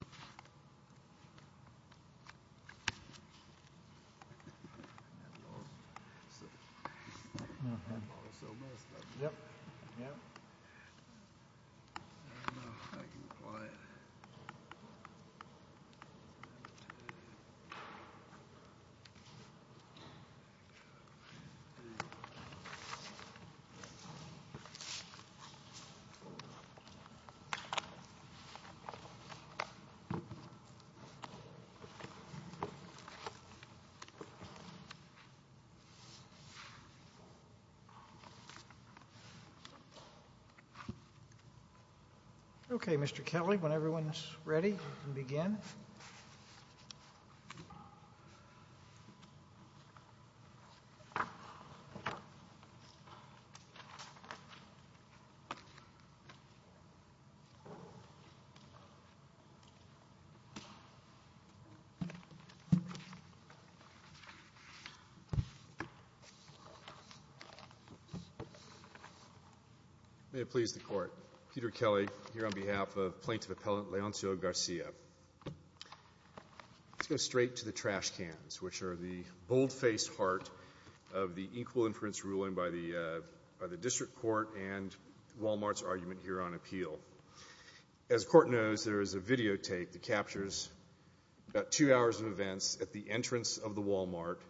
Texas, L.L.C. Okay, Mr. Kelly, when everyone's ready, we can begin. May it please the Court, Peter Kelly here on behalf of Plaintiff Appellant Leoncio Garcia. Let's go straight to the trash cans, which are the bold-faced heart of the equal inference ruling by the District Court and Wal-Mart's argument here on appeal. As the Court knows, there is a videotape that captures about two hours of events at the entrance of the Wal-Mart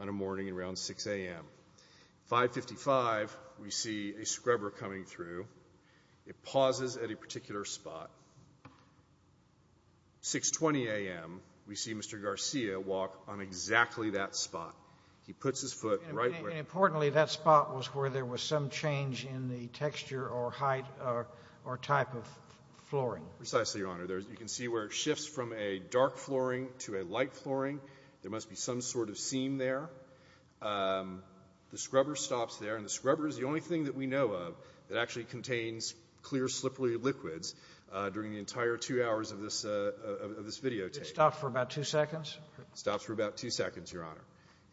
on a morning around 6 a.m. 555, we see a scrubber coming through. It pauses at a particular spot. 620 a.m., we see Mr. Garcia walk on exactly that spot. He puts his foot right where— And importantly, that spot was where there was some change in the texture or height or type of flooring. Precisely, Your Honor. You can see where it shifts from a dark flooring to a light flooring. There must be some sort of seam there. The scrubber stops there, and the scrubber is the only thing that we know of that actually contains clear, slippery liquids during the entire two hours of this videotape. It stops for about two seconds? Stops for about two seconds, Your Honor.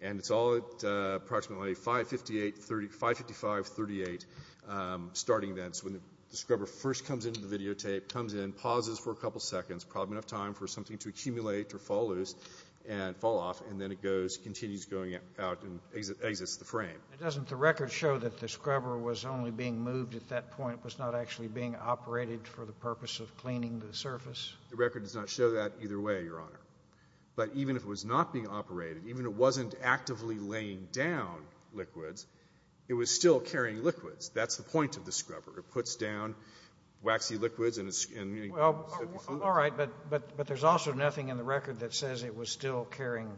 And it's all at approximately 555, 38, starting then. So when the scrubber first comes into the videotape, comes in, pauses for a couple seconds, probably enough time for something to accumulate or fall loose and fall off, and then it goes, continues going out and exits the frame. And doesn't the record show that the scrubber was only being moved at that point? It was not actually being operated for the purpose of cleaning the surface? The record does not show that either way, Your Honor. But even if it was not being operated, even if it wasn't actively laying down liquids, it was still carrying liquids. That's the point of the scrubber. It puts down waxy liquids and— Well, all right, but there's also nothing in the record that says it was still carrying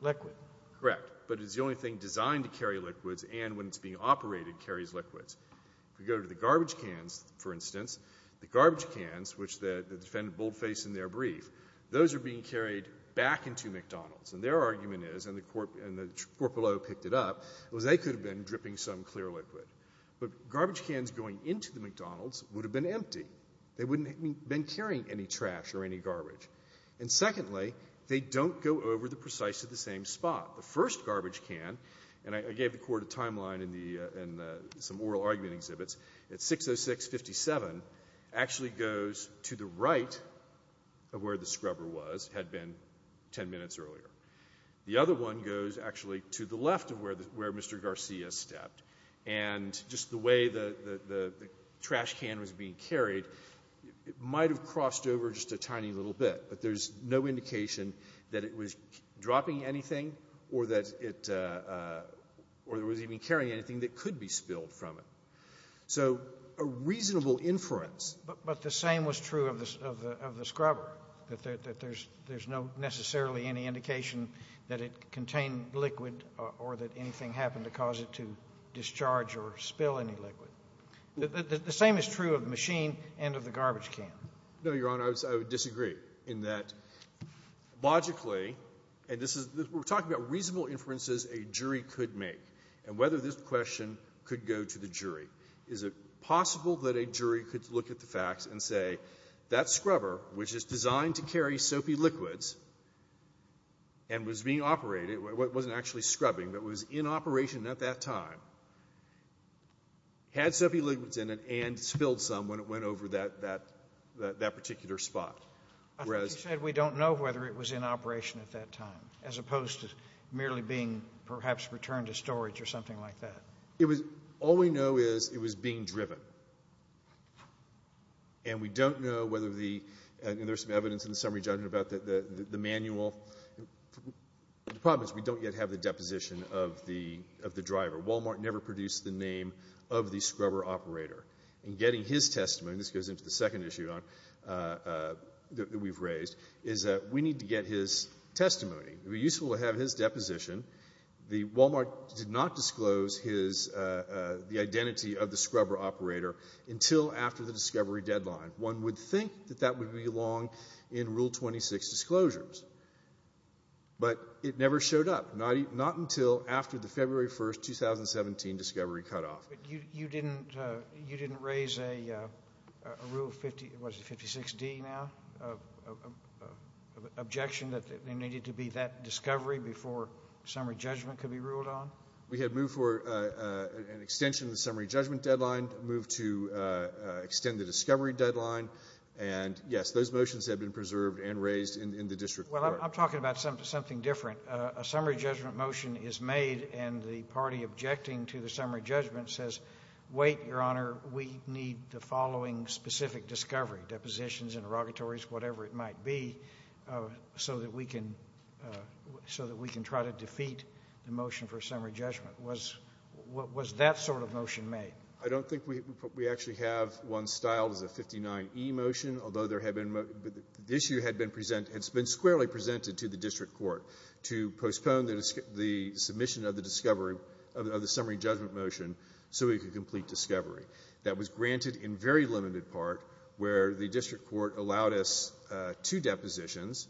liquid. Correct. But it's the only thing designed to carry liquids and, when it's being operated, carries liquids. If we go to the garbage cans, for instance, the garbage cans, which the defendant boldfaced in their brief, those are being carried back into McDonald's. And their argument is, and the court below picked it up, was they could have been dripping some clear liquid. But garbage cans going into the McDonald's would have been empty. They wouldn't have been carrying any trash or any garbage. And secondly, they don't go over the precise—to the same spot. The first garbage can, and I gave the court a timeline in some oral argument exhibits, at 606-57, actually goes to the right of where the scrubber was, had been 10 minutes earlier. The other one goes, actually, to the left of where Mr. Garcia stepped. And just the way the trash can was being carried, it might have crossed over just a tiny little bit. But there's no indication that it was dropping anything or that it was even carrying anything that could be spilled from it. So a reasonable inference— But the same was true of the scrubber, that there's no necessarily any indication that it contained liquid or that anything happened to cause it to discharge or spill any liquid. The same is true of the machine and of the garbage can. No, Your Honor, I would disagree in that logically—and this is—we're talking about reasonable inferences a jury could make and whether this question could go to the jury. Is it possible that a jury could look at the facts and say, that scrubber, which is designed to carry soapy liquids and was being operated—it wasn't actually scrubbing, but was in operation at that time—had soapy liquids in it and spilled some when it went over that particular spot? I thought you said we don't know whether it was in operation at that time, as opposed to merely being perhaps returned to storage or something like that. All we know is it was being driven. And we don't know whether the—and there's some evidence in the summary judgment about that the manual—the problem is we don't yet have the deposition of the driver. Walmart never produced the name of the scrubber operator. In getting his testimony—this goes into the second issue that we've raised—is that we need to get his testimony. It would be useful to have his deposition. The Walmart did not disclose his—the identity of the scrubber operator until after the discovery deadline. One would think that that would be long in Rule 26 disclosures. But it never showed up, not until after the February 1, 2017, discovery cutoff. You didn't raise a Rule 50—what is it, 56D now—objection that there needed to be that discovery before summary judgment could be ruled on? We had moved for an extension of the summary judgment deadline, moved to extend the discovery deadline. And, yes, those motions have been preserved and raised in the district court. Well, I'm talking about something different. A summary judgment motion is made and the party objecting to the summary judgment says, wait, Your Honor, we need the following specific discovery—depositions, interrogatories, whatever it might be—so that we can try to defeat the motion for summary judgment. Was that sort of motion made? I don't think we actually have one styled as a 59E motion, although there had been—the issue had been presented—it's been squarely presented to the district court to postpone the submission of the discovery—of the summary judgment motion so we could complete discovery. That was granted in very limited part where the district court allowed us two depositions,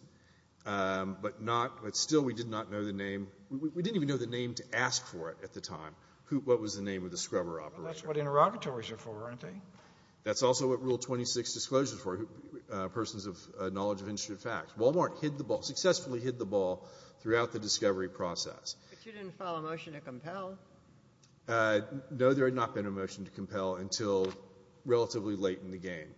but not—but still we did not know the name. We didn't even know the name to ask for it at the time. What was the name of the scrubber operator? Well, that's what interrogatories are for, aren't they? That's also what Rule 26 disclosures were—persons of knowledge of interesting facts. Walmart successfully hid the ball throughout the discovery process. But you didn't file a motion to compel? No, there had not been a motion to compel until relatively late in the game.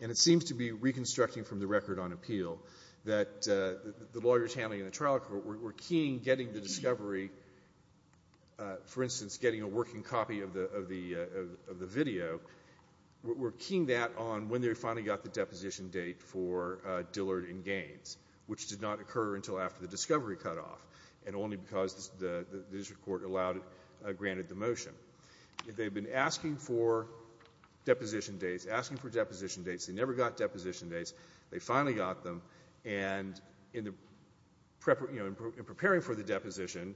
And it seems to be reconstructing from the record on appeal that the lawyers handling the trial were keying getting the discovery—for instance, getting a working copy of the video—were keying that on when they finally got the deposition date for Dillard and Gaines, which did not occur until after the discovery cutoff and only because the district court allowed—granted the motion. They had been asking for deposition dates, asking for deposition dates. They never got deposition dates. They finally got them, and in preparing for the deposition,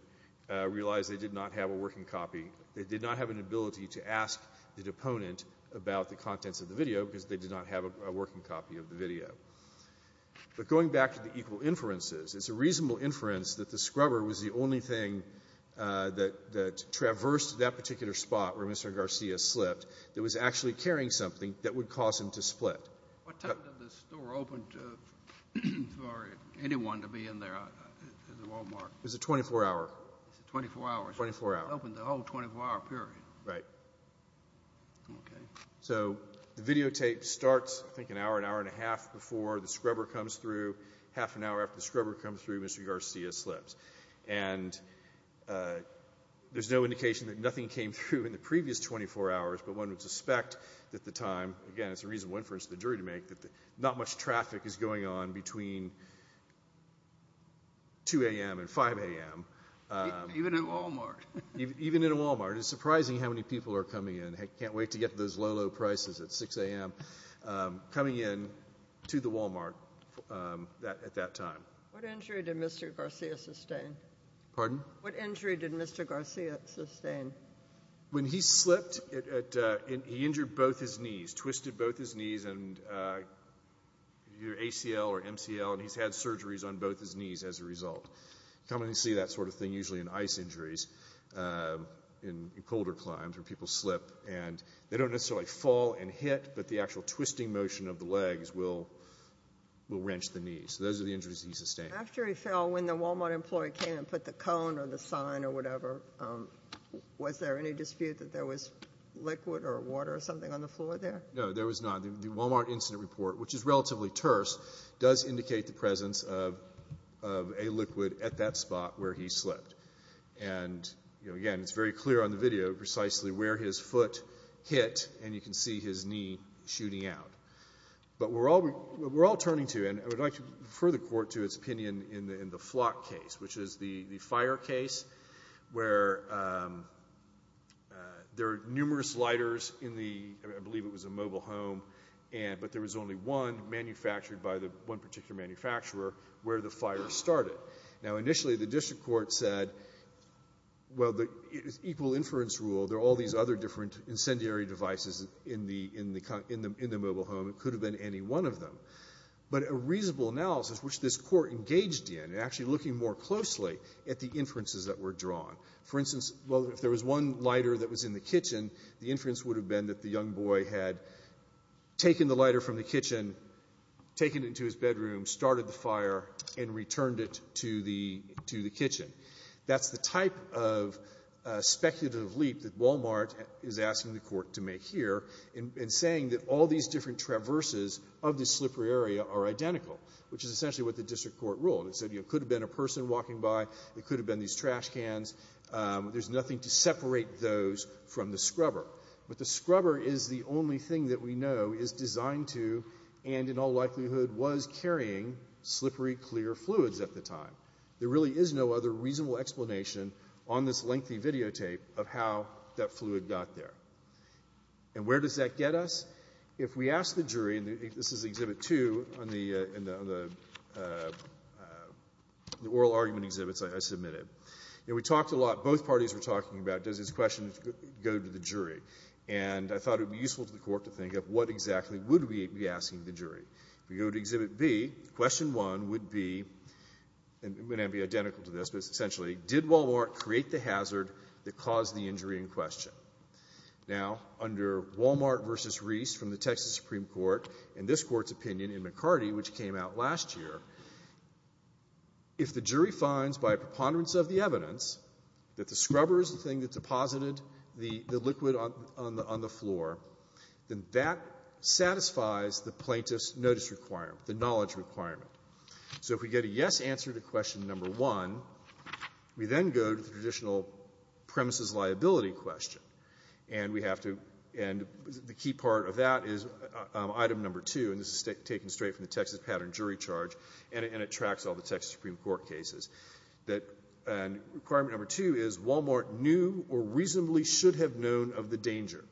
realized they did not have a working copy. They did not have an ability to ask the deponent about the contents of the video because they did not have a working copy of the video. But going back to the equal inferences, it's a reasonable inference that the scrubber was the only thing that traversed that particular spot where Mr. Garcia slipped that was actually carrying something that would cause him to split. What time did the store open for anyone to be in there at the Walmart? It was a 24-hour. It was a 24-hour. 24-hour. It opened the whole 24-hour period. Right. Okay. So, the videotape starts, I think, an hour, an hour and a half before the scrubber comes through. Half an hour after the scrubber comes through, Mr. Garcia slips, and there's no indication that nothing came through in the previous 24 hours, but one would suspect that the time—again, it's a reasonable inference for the jury to make—that not much traffic is going on between 2 a.m. and 5 a.m. Even at Walmart. Even at Walmart. It's surprising how many people are coming in. I can't wait to get those low, low prices at 6 a.m. coming in to the Walmart at that time. What injury did Mr. Garcia sustain? Pardon? What injury did Mr. Garcia sustain? When he slipped, he injured both his knees, twisted both his knees, either ACL or MCL, and he's had surgeries on both his knees as a result. You commonly see that sort of thing, usually, in ice injuries, in colder climbs, where people slip, and they don't necessarily fall and hit, but the actual twisting motion of the legs will wrench the knees. Those are the injuries he sustained. After he fell, when the Walmart employee came and put the cone or the sign or whatever, was there any dispute that there was liquid or water or something on the floor there? No, there was not. The Walmart incident report, which is relatively terse, does indicate the presence of a liquid at that spot where he slipped. Again, it's very clear on the video precisely where his foot hit, and you can see his knee shooting out. But we're all turning to, and I would like to refer the court to its opinion in the Flock case, which is the fire case where there are numerous lighters in the, I believe it was a mobile home, but there was only one manufactured by one particular manufacturer where the fire started. Now, initially, the district court said, well, the equal inference rule, there are all these other different incendiary devices in the mobile home, it could have been any one of them. But a reasonable analysis, which this court engaged in, actually looking more closely at the inferences that were drawn, for instance, well, if there was one lighter that was in the kitchen, the inference would have been that the young boy had taken the lighter from the kitchen, taken it into his bedroom, started the fire, and returned it to the kitchen. That's the type of speculative leap that Wal-Mart is asking the court to make here in saying that all these different traverses of the slippery area are identical, which is essentially what the district court ruled. It said, you know, it could have been a person walking by, it could have been these trash cans, there's nothing to separate those from the scrubber. But the scrubber is the only thing that we know is designed to, and in all likelihood was carrying, slippery clear fluids at the time. There really is no other reasonable explanation on this lengthy videotape of how that fluid got there. And where does that get us? If we ask the jury, and this is Exhibit 2 on the oral argument exhibits I submitted, we talked a lot, both parties were talking about, does this question go to the jury? And I thought it would be useful to the court to think of what exactly would we be asking the jury. If we go to Exhibit B, Question 1 would be, and it may not be identical to this, but essentially, did Wal-Mart create the hazard that caused the injury in question? Now under Wal-Mart v. Reese from the Texas Supreme Court, and this court's opinion in McCarty which came out last year, if the jury finds by a preponderance of the evidence that the scrubber is the thing that deposited the liquid on the floor, then that satisfies the plaintiff's notice requirement, the knowledge requirement. So if we get a yes answer to Question 1, we then go to the traditional premises liability question. And we have to, and the key part of that is Item 2, and this is taken straight from the Texas Pattern Jury Charge, and it tracks all the Texas Supreme Court cases, that Requirement 2 is, Wal-Mart knew or reasonably should have known of the danger.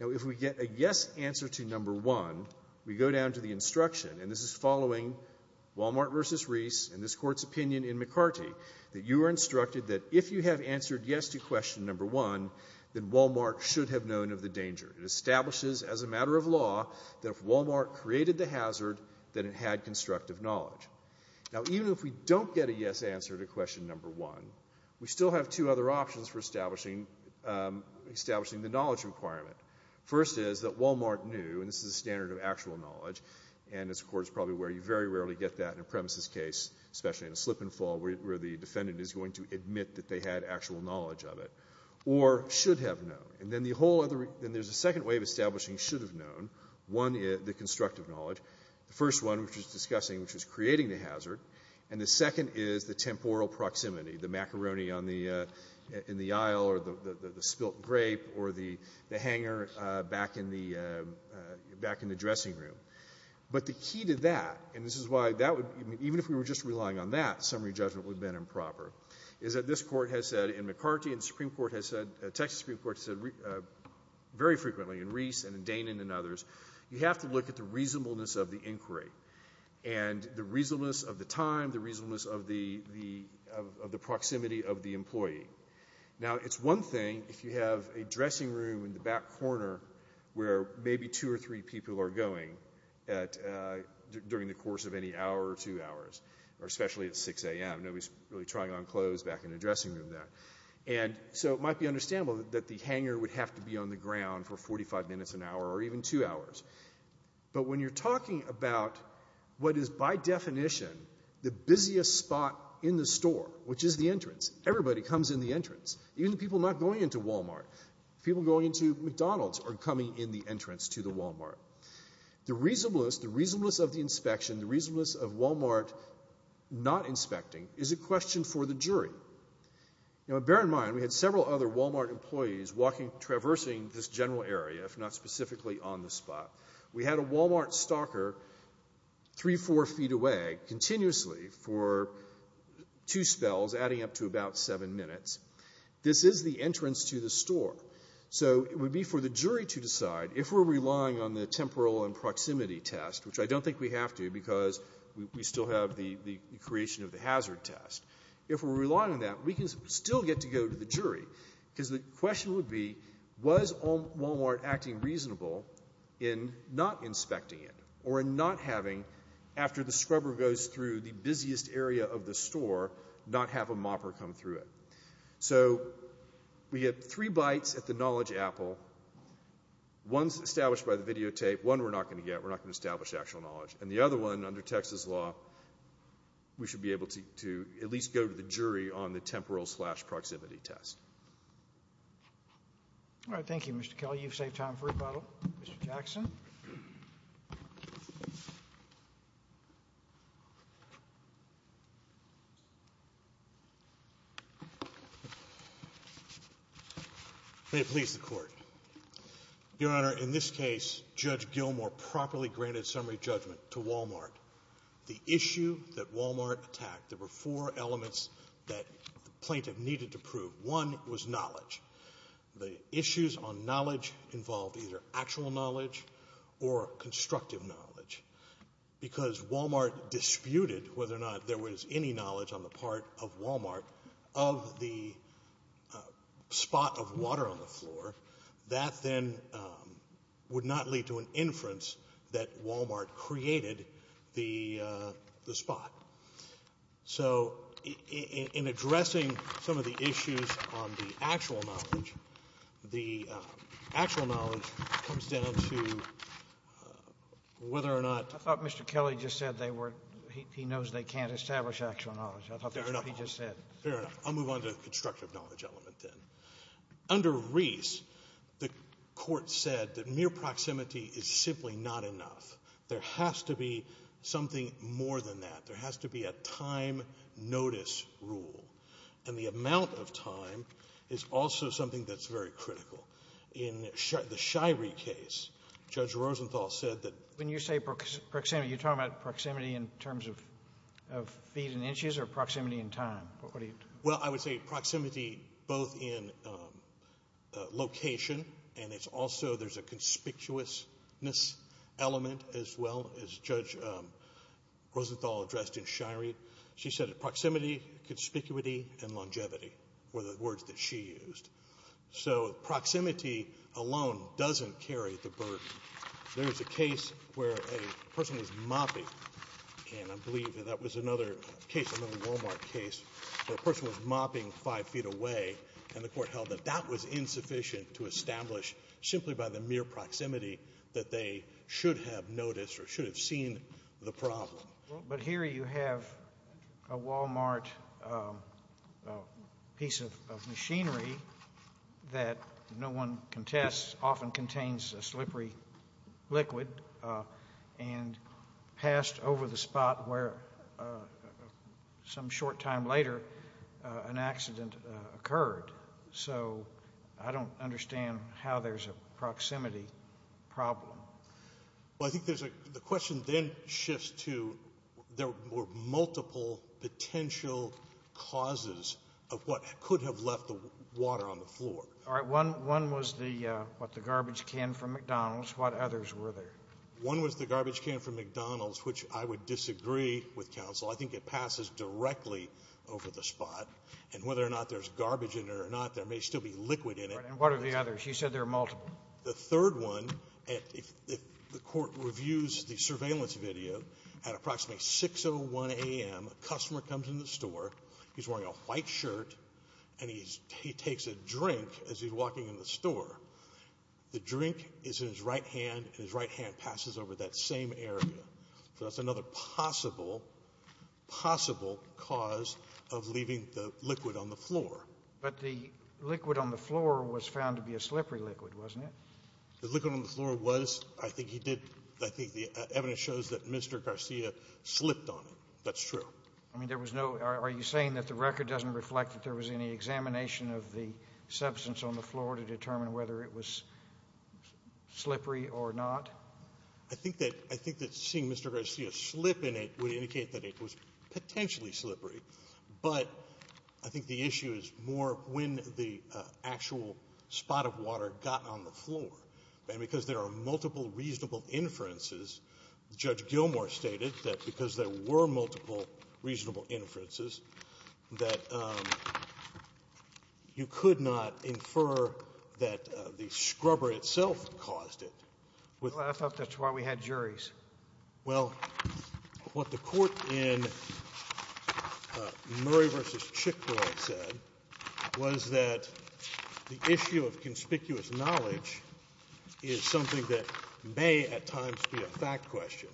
Now if we get a yes answer to Number 1, we go down to the instruction, and this is following Wal-Mart v. Reese and this court's opinion in McCarty, that you are instructed that if you have answered yes to Question 1, then Wal-Mart should have known of the danger. It establishes as a matter of law that if Wal-Mart created the hazard, that it had constructive knowledge. Now even if we don't get a yes answer to Question 1, we still have two other options for establishing the knowledge requirement. First is that Wal-Mart knew, and this is a standard of actual knowledge, and this court is probably where you very rarely get that in a premises case, especially in a slip and fall where the defendant is going to admit that they had actual knowledge of it, or should have known. And then the whole other, and there's a second way of establishing should have known. One is the constructive knowledge. The first one, which is discussing, which is creating the hazard. And the second is the temporal proximity, the macaroni in the aisle or the spilt grape or the hanger back in the dressing room. But the key to that, and this is why, even if we were just relying on that, summary judgment would have been improper, is that this court has said in McCarty and the Supreme Court has said, Texas Supreme Court has said very frequently in Reese and in Danen and others, you have to look at the reasonableness of the inquiry. And the reasonableness of the time, the reasonableness of the proximity of the employee. Now it's one thing if you have a dressing room in the back corner where maybe two or three people are going during the course of any hour or two hours, or especially at 6 a.m. Nobody's really trying on clothes back in the dressing room there. And so it might be understandable that the hanger would have to be on the ground for But when you're talking about what is, by definition, the busiest spot in the store, which is the entrance. Everybody comes in the entrance. Even the people not going into Wal-Mart. People going into McDonald's are coming in the entrance to the Wal-Mart. The reasonableness, the reasonableness of the inspection, the reasonableness of Wal-Mart not inspecting is a question for the jury. Now bear in mind, we had several other Wal-Mart employees walking, traversing this general area, if not specifically on the spot. We had a Wal-Mart stalker three, four feet away, continuously, for two spells, adding up to about seven minutes. This is the entrance to the store. So it would be for the jury to decide, if we're relying on the temporal and proximity test, which I don't think we have to because we still have the creation of the hazard test. If we're relying on that, we can still get to go to the jury, because the question would be, was Wal-Mart acting reasonable in not inspecting it, or in not having, after the scrubber goes through the busiest area of the store, not have a mopper come through it. So we have three bites at the knowledge apple. One's established by the videotape. One we're not going to get. We're not going to establish actual knowledge. And the other one, under Texas law, we should be able to at least go to the jury on the All right. Thank you, Mr. Kelley. You've saved time for rebuttal. Mr. Jackson? May it please the Court. Your Honor, in this case, Judge Gilmore properly granted summary judgment to Wal-Mart. The issue that Wal-Mart attacked, there were four elements that the plaintiff needed to prove. One was knowledge. The issues on knowledge involved either actual knowledge or constructive knowledge. Because Wal-Mart disputed whether or not there was any knowledge on the part of Wal-Mart of the spot of water on the floor, that then would not lead to an inference that Wal-Mart created the spot. So, in addressing some of the issues on the actual knowledge, the actual knowledge comes down to whether or not I thought Mr. Kelley just said he knows they can't establish actual knowledge. I thought that's what he just said. Fair enough. Fair enough. I'll move on to the constructive knowledge element then. Under Reese, the Court said that mere proximity is simply not enough. There has to be something more than that. There has to be a time notice rule. And the amount of time is also something that's very critical. In the Shirey case, Judge Rosenthal said that... When you say proximity, you're talking about proximity in terms of feet and inches or proximity in time? What are you... Well, I would say proximity both in location and it's also there's a conspicuousness element as well as Judge Rosenthal addressed in Shirey. She said that proximity, conspicuity, and longevity were the words that she used. So, proximity alone doesn't carry the burden. There was a case where a person was mopping and I believe that was another case, another Wal-Mart case, where a person was mopping five feet away and the Court held that that was insufficient to establish simply by the mere proximity that they should have noticed or should have seen the problem. But here you have a Wal-Mart piece of machinery that no one contests often contains a slippery liquid and passed over the spot where some short time later an accident occurred. So, I don't understand how there's a proximity problem. Well, I think there's a... the question then shifts to there were multiple potential causes of what could have left the water on the floor. All right. One was the... what the garbage can from McDonald's. What others were there? One was the garbage can from McDonald's, which I would disagree with counsel. I think it passes directly over the spot. And whether or not there's garbage in there or not, there may still be liquid in it. Right. And what are the others? You said there are multiple. The third one, if the Court reviews the surveillance video, at approximately 6.01 a.m. a customer comes in the store. He's wearing a white shirt and he takes a drink as he's walking in the store. The drink is in his right hand and his right hand passes over that same area. So, that's another possible, possible cause of leaving the liquid on the floor. But the liquid on the floor was found to be a slippery liquid, wasn't it? The liquid on the floor was. I think he did... I think the evidence shows that Mr. Garcia slipped on it. That's true. I mean, there was no... are you saying that the record doesn't reflect that there was any examination of the substance on the floor to determine whether it was slippery or not? I think that seeing Mr. Garcia slip in it would indicate that it was potentially slippery. But I think the issue is more when the actual spot of water got on the floor. And because there are multiple reasonable inferences, Judge Gilmour stated that because there were multiple reasonable inferences, that you could not infer that the scrubber itself caused it. Well, I thought that's why we had juries. Well, what the court in Murray v. Chick-fil-A said was that the issue of conspicuous knowledge is something that may at times be a fact question.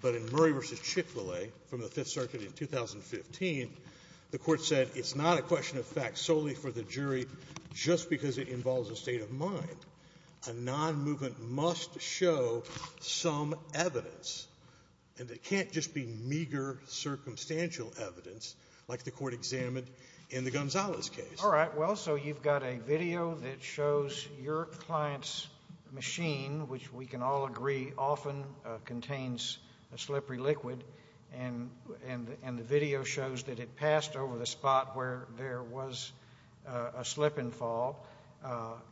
But in Murray v. Chick-fil-A from the Fifth Circuit in 2015, the court said it's not a question of fact solely for the jury just because it involves a state of mind. A non-movement must show some evidence. And it can't just be meager circumstantial evidence like the court examined in the Gonzalez case. All right. Well, so you've got a video that shows your client's machine, which we can all agree often contains a slippery liquid, and the video shows that it passed over the spot where there was a slip and fall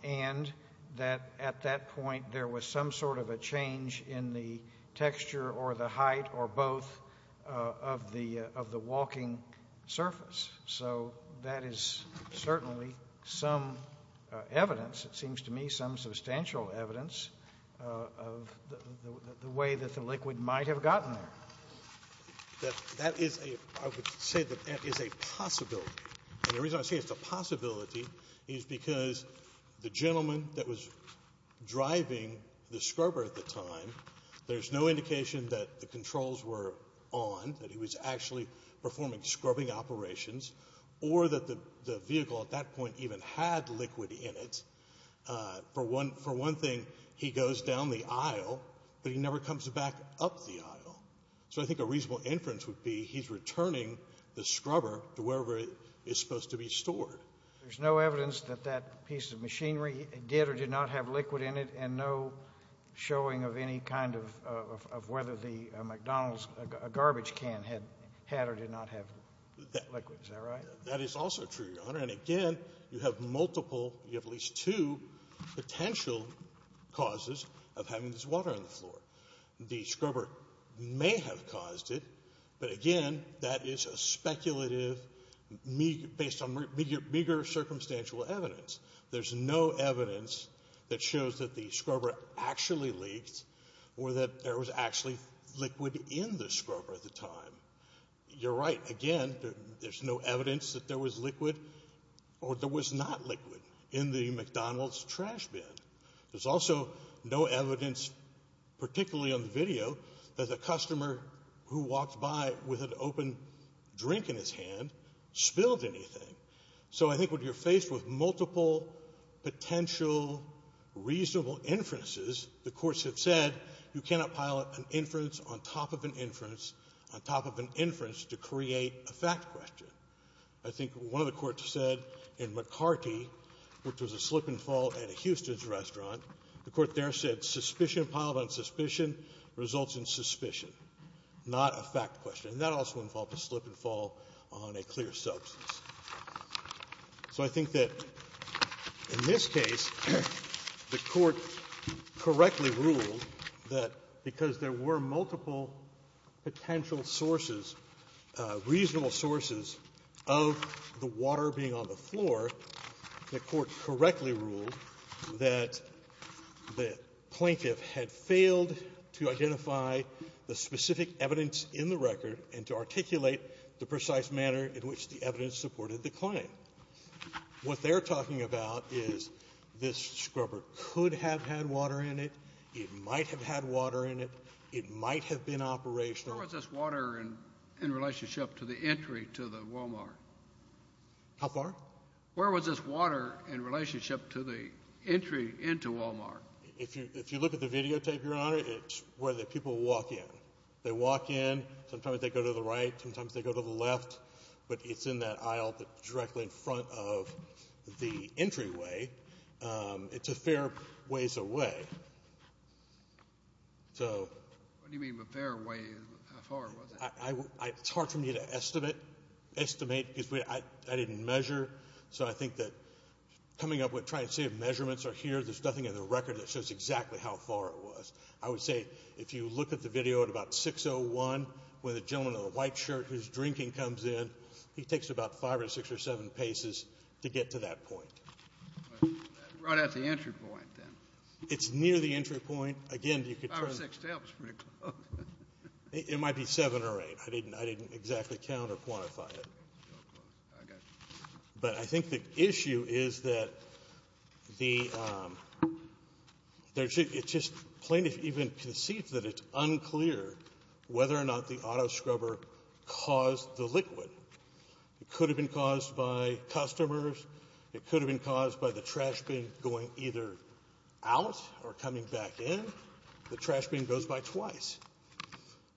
and that at that point there was some sort of a change in the texture or the height or both of the walking surface. So that is certainly some evidence, it seems to me, some substantial evidence of the way that the liquid might have gotten there. That is a – I would say that that is a possibility. And the reason I say it's a possibility is because the gentleman that was driving the scrubber at the time, there's no indication that the controls were on, that he was actually performing scrubbing operations, or that the vehicle at that point even had liquid in it. For one thing, he goes down the aisle, but he never comes back up the aisle. So I think a reasonable inference would be he's returning the scrubber to wherever it's supposed to be stored. There's no evidence that that piece of machinery did or did not have liquid in it and no showing of any kind of whether the McDonald's garbage can had or did not have liquid. Is that right? That is also true, Your Honor. And again, you have multiple – you have at least two potential causes of having this water on the floor. The scrubber may have caused it, but again, that is a speculative – based on meager circumstantial evidence. There's no evidence that shows that the scrubber actually leaked or that there was actually liquid in the scrubber at the time. You're right. Again, there's no evidence that there was liquid or there was not liquid in the McDonald's trash bin. There's also no evidence, particularly on the video, that the customer who walked by with an open drink in his hand spilled anything. So I think when you're faced with multiple potential reasonable inferences, the courts have said you cannot pile an inference on top of an inference on top of an inference to create a fact question. I think one of the courts said in McCarty, which was a slip and fall at a Houston's restaurant, the court there said suspicion piled on suspicion results in suspicion, not a fact question. And that also involved a slip and fall on a clear substance. So I think that in this case, the court correctly ruled that because there were multiple potential sources, reasonable sources of the water being on the floor, the court correctly ruled that the plaintiff had failed to identify the specific evidence in the record and to articulate the precise manner in which the evidence supported the claim. What they're talking about is this scrubber could have had water in it. It might have had water in it. It might have been operational. Where was this water in relationship to the entry to the Wal-Mart? How far? Where was this water in relationship to the entry into Wal-Mart? If you look at the videotape, Your Honor, it's where the people walk in. They walk in. Sometimes they go to the right. Sometimes they go to the left. But it's in that aisle directly in front of the entryway. It's a fair ways away. What do you mean a fair way? How far was it? It's hard for me to estimate because I didn't measure. So I think that coming up with trying to see if measurements are here, there's nothing in the record that shows exactly how far it was. I would say if you look at the video at about 6.01, where the gentleman in the white shirt who's drinking comes in, he takes about five or six or seven paces to get to that point. Right at the entry point then. It's near the entry point. Five or six steps. It might be seven or eight. I didn't exactly count or quantify it. I got you. But I think the issue is that the plaintiff even concedes that it's unclear whether or not the auto scrubber caused the liquid. It could have been caused by customers. It could have been caused by the trash bin going either out or coming back in. The trash bin goes by twice.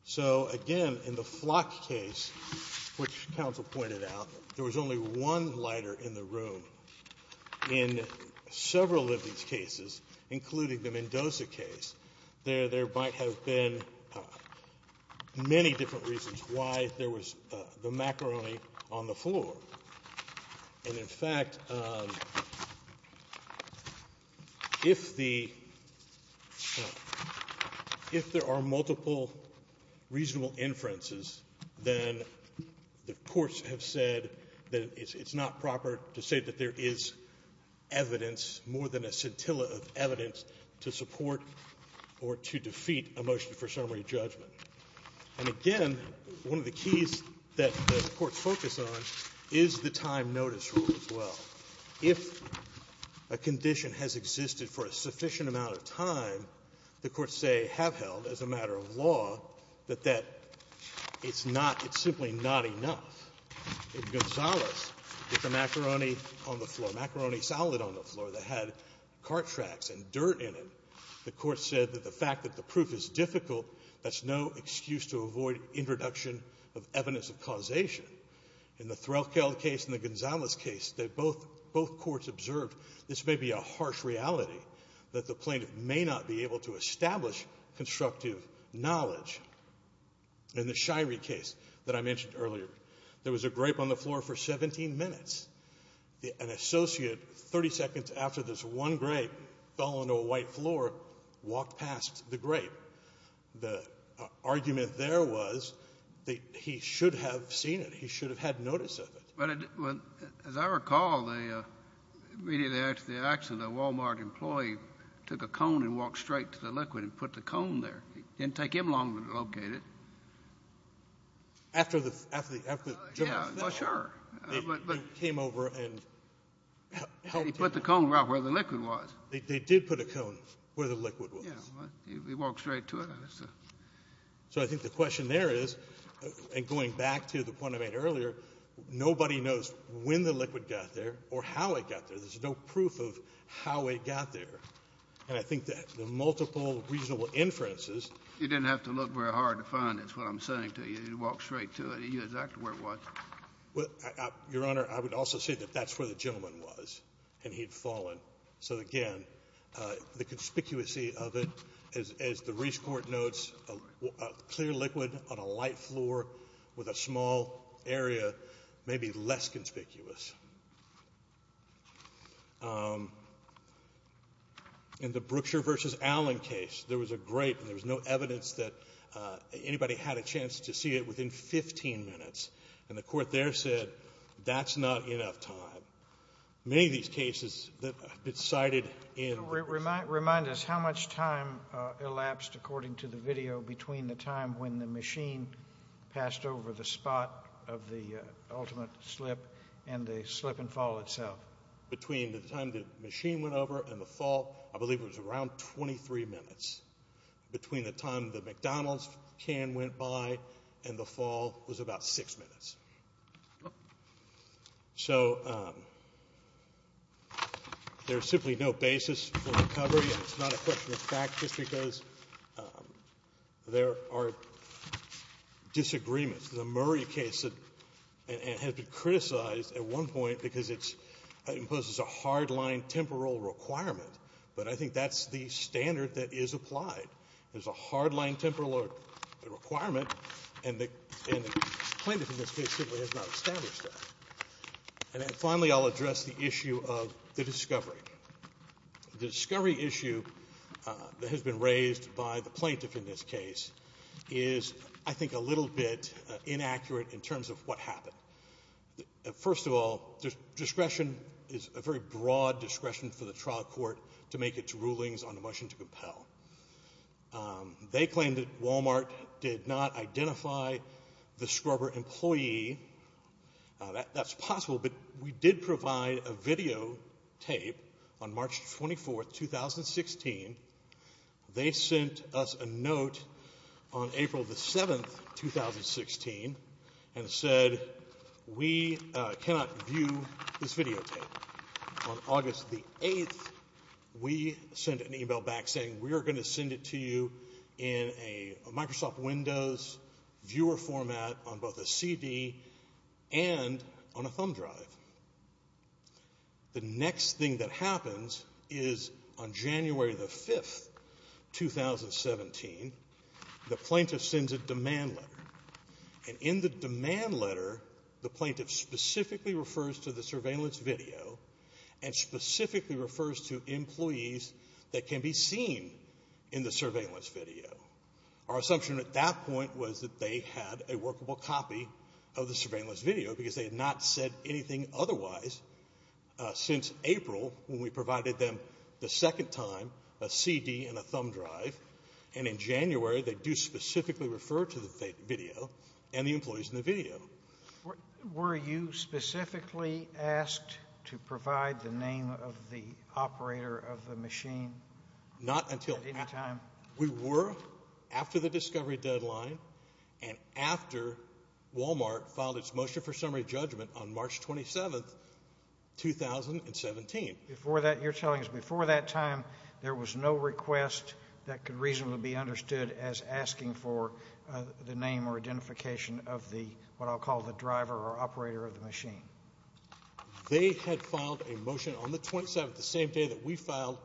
So again, in the Flock case, which counsel pointed out, there was only one lighter in the room. In several of these cases, including the Mendoza case, there might have been many different reasons why there was the macaroni on the floor. And in fact, if there are multiple reasonable inferences, then the courts have said that it's not proper to say that there is evidence, more than a scintilla of evidence, to support or to defeat a motion for summary judgment. And again, one of the keys that the courts focus on is the time notice rule as well. If a condition has existed for a sufficient amount of time, the courts say have held as a matter of law that it's simply not enough. In Gonzales, with the macaroni on the floor, macaroni salad on the floor, that had car tracks and dirt in it, the court said that the fact that the proof is difficult, that's no excuse to avoid introduction of evidence of causation. In the Threlkeld case and the Gonzales case, both courts observed this may be a harsh reality, that the plaintiff may not be able to establish constructive knowledge. In the Shirey case that I mentioned earlier, there was a grape on the floor for 17 minutes. An associate, 30 seconds after this one grape fell onto a white floor, walked past the grape. The argument there was that he should have seen it. He should have had notice of it. But as I recall, immediately after the accident, a Wal-Mart employee took a cone and walked straight to the liquid and put the cone there. It didn't take him long to locate it. After the general fell? Yeah, for sure. He came over and helped him. He put the cone right where the liquid was. They did put a cone where the liquid was. Yeah, he walked straight to it. So I think the question there is, and going back to the point I made earlier, nobody knows when the liquid got there or how it got there. There's no proof of how it got there. And I think that the multiple reasonable inferences— You didn't have to look very hard to find it, is what I'm saying to you. He walked straight to it. He knew exactly where it was. Your Honor, I would also say that that's where the gentleman was, and he'd fallen. So, again, the conspicuous of it, as the Reese court notes, a clear liquid on a light floor with a small area may be less conspicuous. In the Brookshire v. Allen case, there was a grape, and there was no evidence that anybody had a chance to see it within 15 minutes. And the court there said, that's not enough time. Many of these cases that have been cited in— Remind us how much time elapsed, according to the video, between the time when the machine passed over the spot of the ultimate slip and the slip and fall itself. Between the time the machine went over and the fall, I believe it was around 23 minutes. Between the time the McDonald's can went by and the fall was about 6 minutes. So there's simply no basis for recovery, and it's not a question of fact, just because there are disagreements. The Murray case has been criticized at one point because it imposes a hard-line temporal requirement, but I think that's the standard that is applied. There's a hard-line temporal requirement, and the plaintiff in this case simply has not established that. Finally, I'll address the issue of the discovery. The discovery issue that has been raised by the plaintiff in this case is, I think, a little bit inaccurate in terms of what happened. First of all, discretion is a very broad discretion for the trial court to make its rulings on a motion to compel. They claim that Walmart did not identify the scrubber employee. That's possible, but we did provide a videotape on March 24, 2016. They sent us a note on April 7, 2016, and said, we cannot view this videotape. On August 8, we sent an email back saying, we are going to send it to you in a Microsoft Windows viewer format on both a CD and on a thumb drive. The next thing that happens is on January 5, 2017, the plaintiff sends a demand letter, and in the demand letter the plaintiff specifically refers to the surveillance video and specifically refers to employees that can be seen in the surveillance video. Our assumption at that point was that they had a workable copy of the surveillance video because they had not said anything otherwise since April when we provided them the second time a CD and a thumb drive, and in January they do specifically refer to the video and the employees in the video. Were you specifically asked to provide the name of the operator of the machine? Not until after the discovery deadline and after Walmart filed its motion for summary judgment on March 27, 2017. You're telling us before that time there was no request that could reasonably be understood as asking for the name or identification of what I'll call the driver or operator of the machine? They had filed a motion on the 27th, the same day that we filed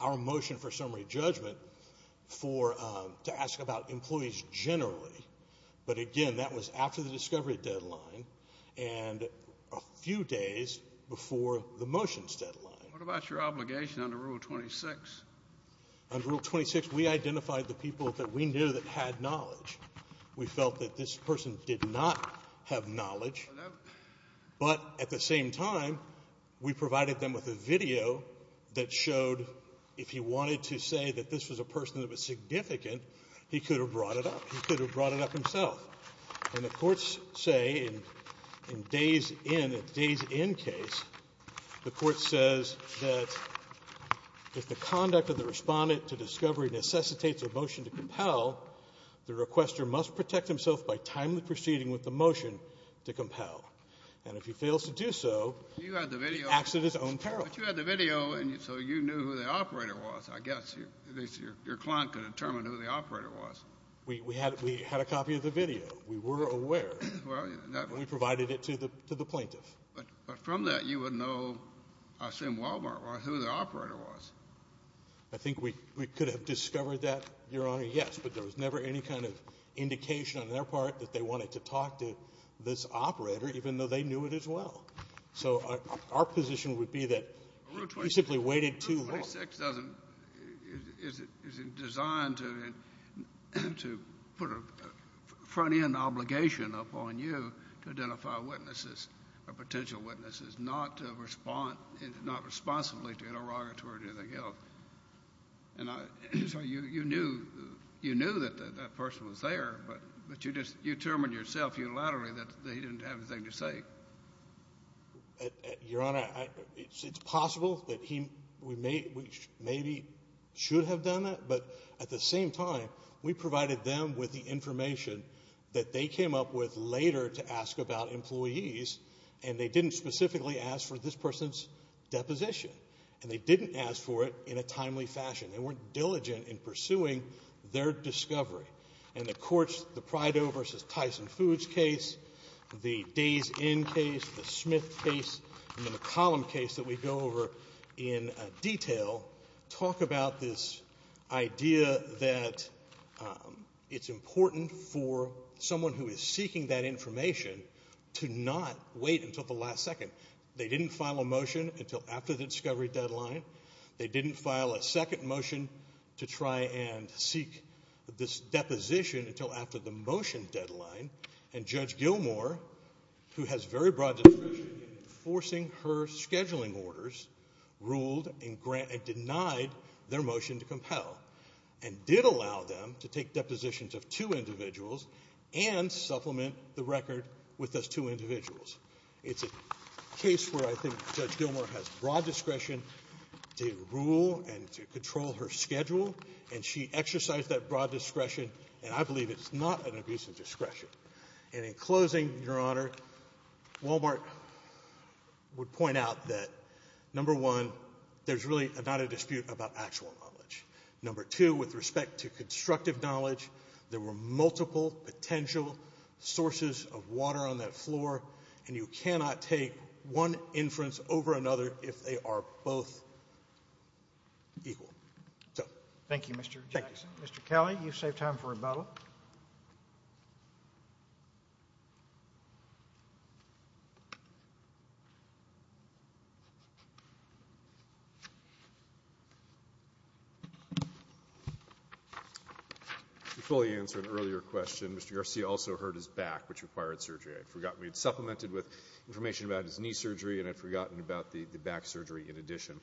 our motion for summary judgment, to ask about employees generally, but again that was after the discovery deadline and a few days before the motion's deadline. What about your obligation under Rule 26? Under Rule 26 we identified the people that we knew that had knowledge. We felt that this person did not have knowledge, but at the same time we provided them with a video that showed if he wanted to say that this was a person that was significant, he could have brought it up. He could have brought it up himself. And the courts say in a days-in case, the court says that if the conduct of the respondent to discovery necessitates a motion to compel, the requester must protect himself by timely proceeding with the motion to compel, and if he fails to do so, acts at his own peril. But you had the video, so you knew who the operator was. I guess your client could determine who the operator was. We had a copy of the video. We were aware, and we provided it to the plaintiff. But from that you would know, I assume, Walmart, who the operator was. I think we could have discovered that, Your Honor, yes, but there was never any kind of indication on their part that they wanted to talk to this operator, even though they knew it as well. So our position would be that he simply waited too long. Rule 26 is designed to put a front-end obligation upon you to identify witnesses, or potential witnesses, not responsibly to interrogate or do anything else. And so you knew that that person was there, but you just determined yourself unilaterally that he didn't have anything to say. Your Honor, it's possible that we maybe should have done that, but at the same time we provided them with the information that they came up with later to ask about employees, and they didn't specifically ask for this person's deposition, and they didn't ask for it in a timely fashion. They weren't diligent in pursuing their discovery. And the courts, the Prido v. Tyson Foods case, the Days Inn case, the Smith case, and then the Column case that we go over in detail, talk about this idea that it's important for someone who is seeking that information to not wait until the last second. They didn't file a motion until after the discovery deadline. They didn't file a second motion to try and seek this deposition until after the motion deadline. And Judge Gilmour, who has very broad discretion in enforcing her scheduling orders, ruled and denied their motion to compel, and did allow them to take depositions of two individuals and supplement the record with those two individuals. It's a case where I think Judge Gilmour has broad discretion to rule and to control her schedule, and she exercised that broad discretion, and I believe it's not an abuse of discretion. And in closing, Your Honor, Walmart would point out that, number one, there's really not a dispute about actual knowledge. Number two, with respect to constructive knowledge, there were multiple potential sources of water on that floor, and you cannot take one inference over another if they are both equal. Thank you, Mr. Jackson. Mr. Kelly, you've saved time for rebuttal. To fully answer an earlier question, Mr. Garcia also hurt his back, which required surgery. We had supplemented with information about his knee surgery, and I'd forgotten about the back surgery in addition.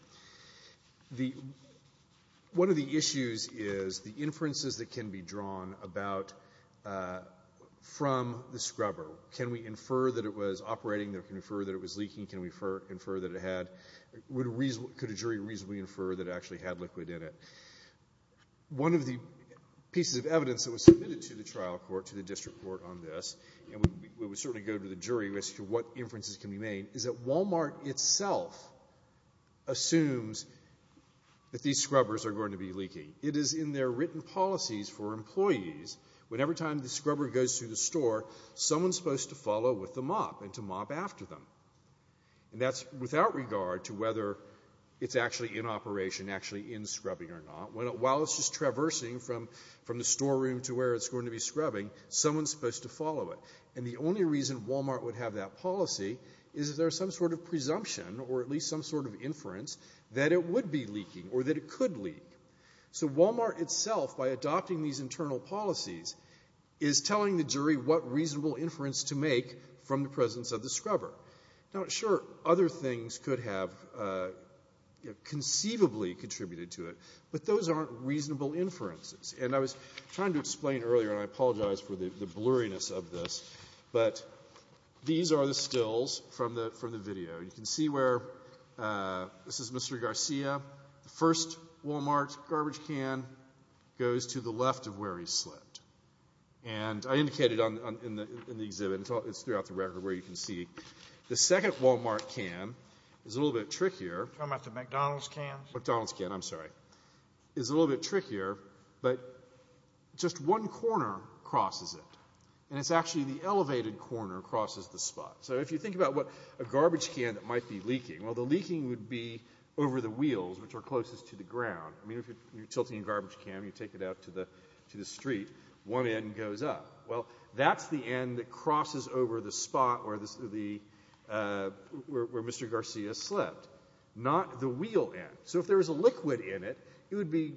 One of the issues is the inferences that can be drawn from the scrubber. Can we infer that it was operating? Can we infer that it was leaking? Can we infer that it had? Could a jury reasonably infer that it actually had liquid in it? One of the pieces of evidence that was submitted to the trial court, to the district court on this, and we would certainly go to the jury as to what inferences can be made, is that Walmart itself assumes that these scrubbers are going to be leaking. It is in their written policies for employees whenever time the scrubber goes through the store, someone's supposed to follow with the mop and to mop after them. And that's without regard to whether it's actually in operation, actually in scrubbing or not. While it's just traversing from the storeroom to where it's going to be scrubbing, someone's supposed to follow it. And the only reason Walmart would have that policy is if there's some sort of presumption or at least some sort of inference that it would be leaking or that it could leak. So Walmart itself, by adopting these internal policies, is telling the jury what reasonable inference to make from the presence of the scrubber. Now, sure, other things could have conceivably contributed to it, but those aren't reasonable inferences. And I was trying to explain earlier, and I apologize for the blurriness of this, but these are the stills from the video. You can see where this is Mr. Garcia. The first Walmart garbage can goes to the left of where he slipped. And I indicated in the exhibit, it's throughout the record, where you can see. The second Walmart can is a little bit trickier. You're talking about the McDonald's cans? McDonald's can, I'm sorry. It's a little bit trickier, but just one corner crosses it, and it's actually the elevated corner crosses the spot. So if you think about what a garbage can that might be leaking, well, the leaking would be over the wheels, which are closest to the ground. I mean, if you're tilting a garbage can, you take it out to the street, one end goes up. Well, that's the end that crosses over the spot where Mr. Garcia slipped, not the wheel end. So if there was a liquid in it, it would be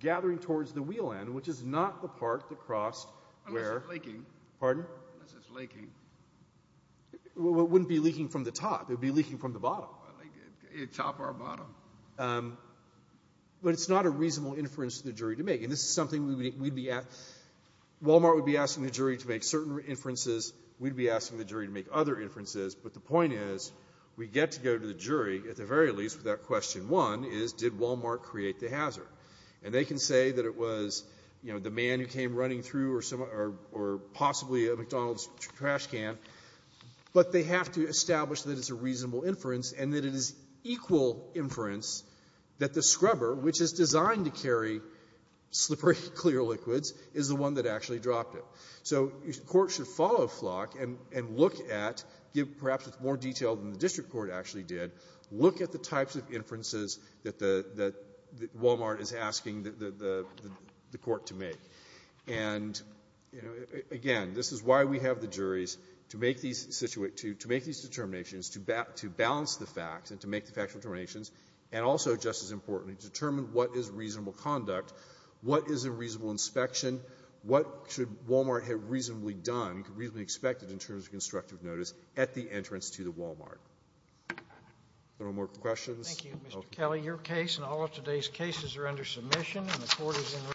gathering towards the wheel end, which is not the part that crossed where— Unless it's leaking. Pardon? Unless it's leaking. Well, it wouldn't be leaking from the top. It would be leaking from the bottom. Either top or bottom. But it's not a reasonable inference for the jury to make, and this is something we'd be—Wal-Mart would be asking the jury to make certain inferences. We'd be asking the jury to make other inferences. But the point is we get to go to the jury, at the very least, with that question. One is did Wal-Mart create the hazard? And they can say that it was the man who came running through or possibly a McDonald's trash can, but they have to establish that it's a reasonable inference and that it is equal inference that the scrubber, which is designed to carry slippery, clear liquids, is the one that actually dropped it. So the court should follow Flock and look at—perhaps with more detail than the district court actually did— look at the types of inferences that Wal-Mart is asking the court to make. And, again, this is why we have the juries to make these determinations, to balance the facts and to make the factual determinations, and also, just as importantly, to determine what is reasonable conduct, what is a reasonable inspection, what should Wal-Mart have reasonably done, reasonably expected, in terms of constructive notice at the entrance to the Wal-Mart. If there are no more questions— Thank you, Mr. Kelly. Your case and all of today's cases are under submission, and the court is—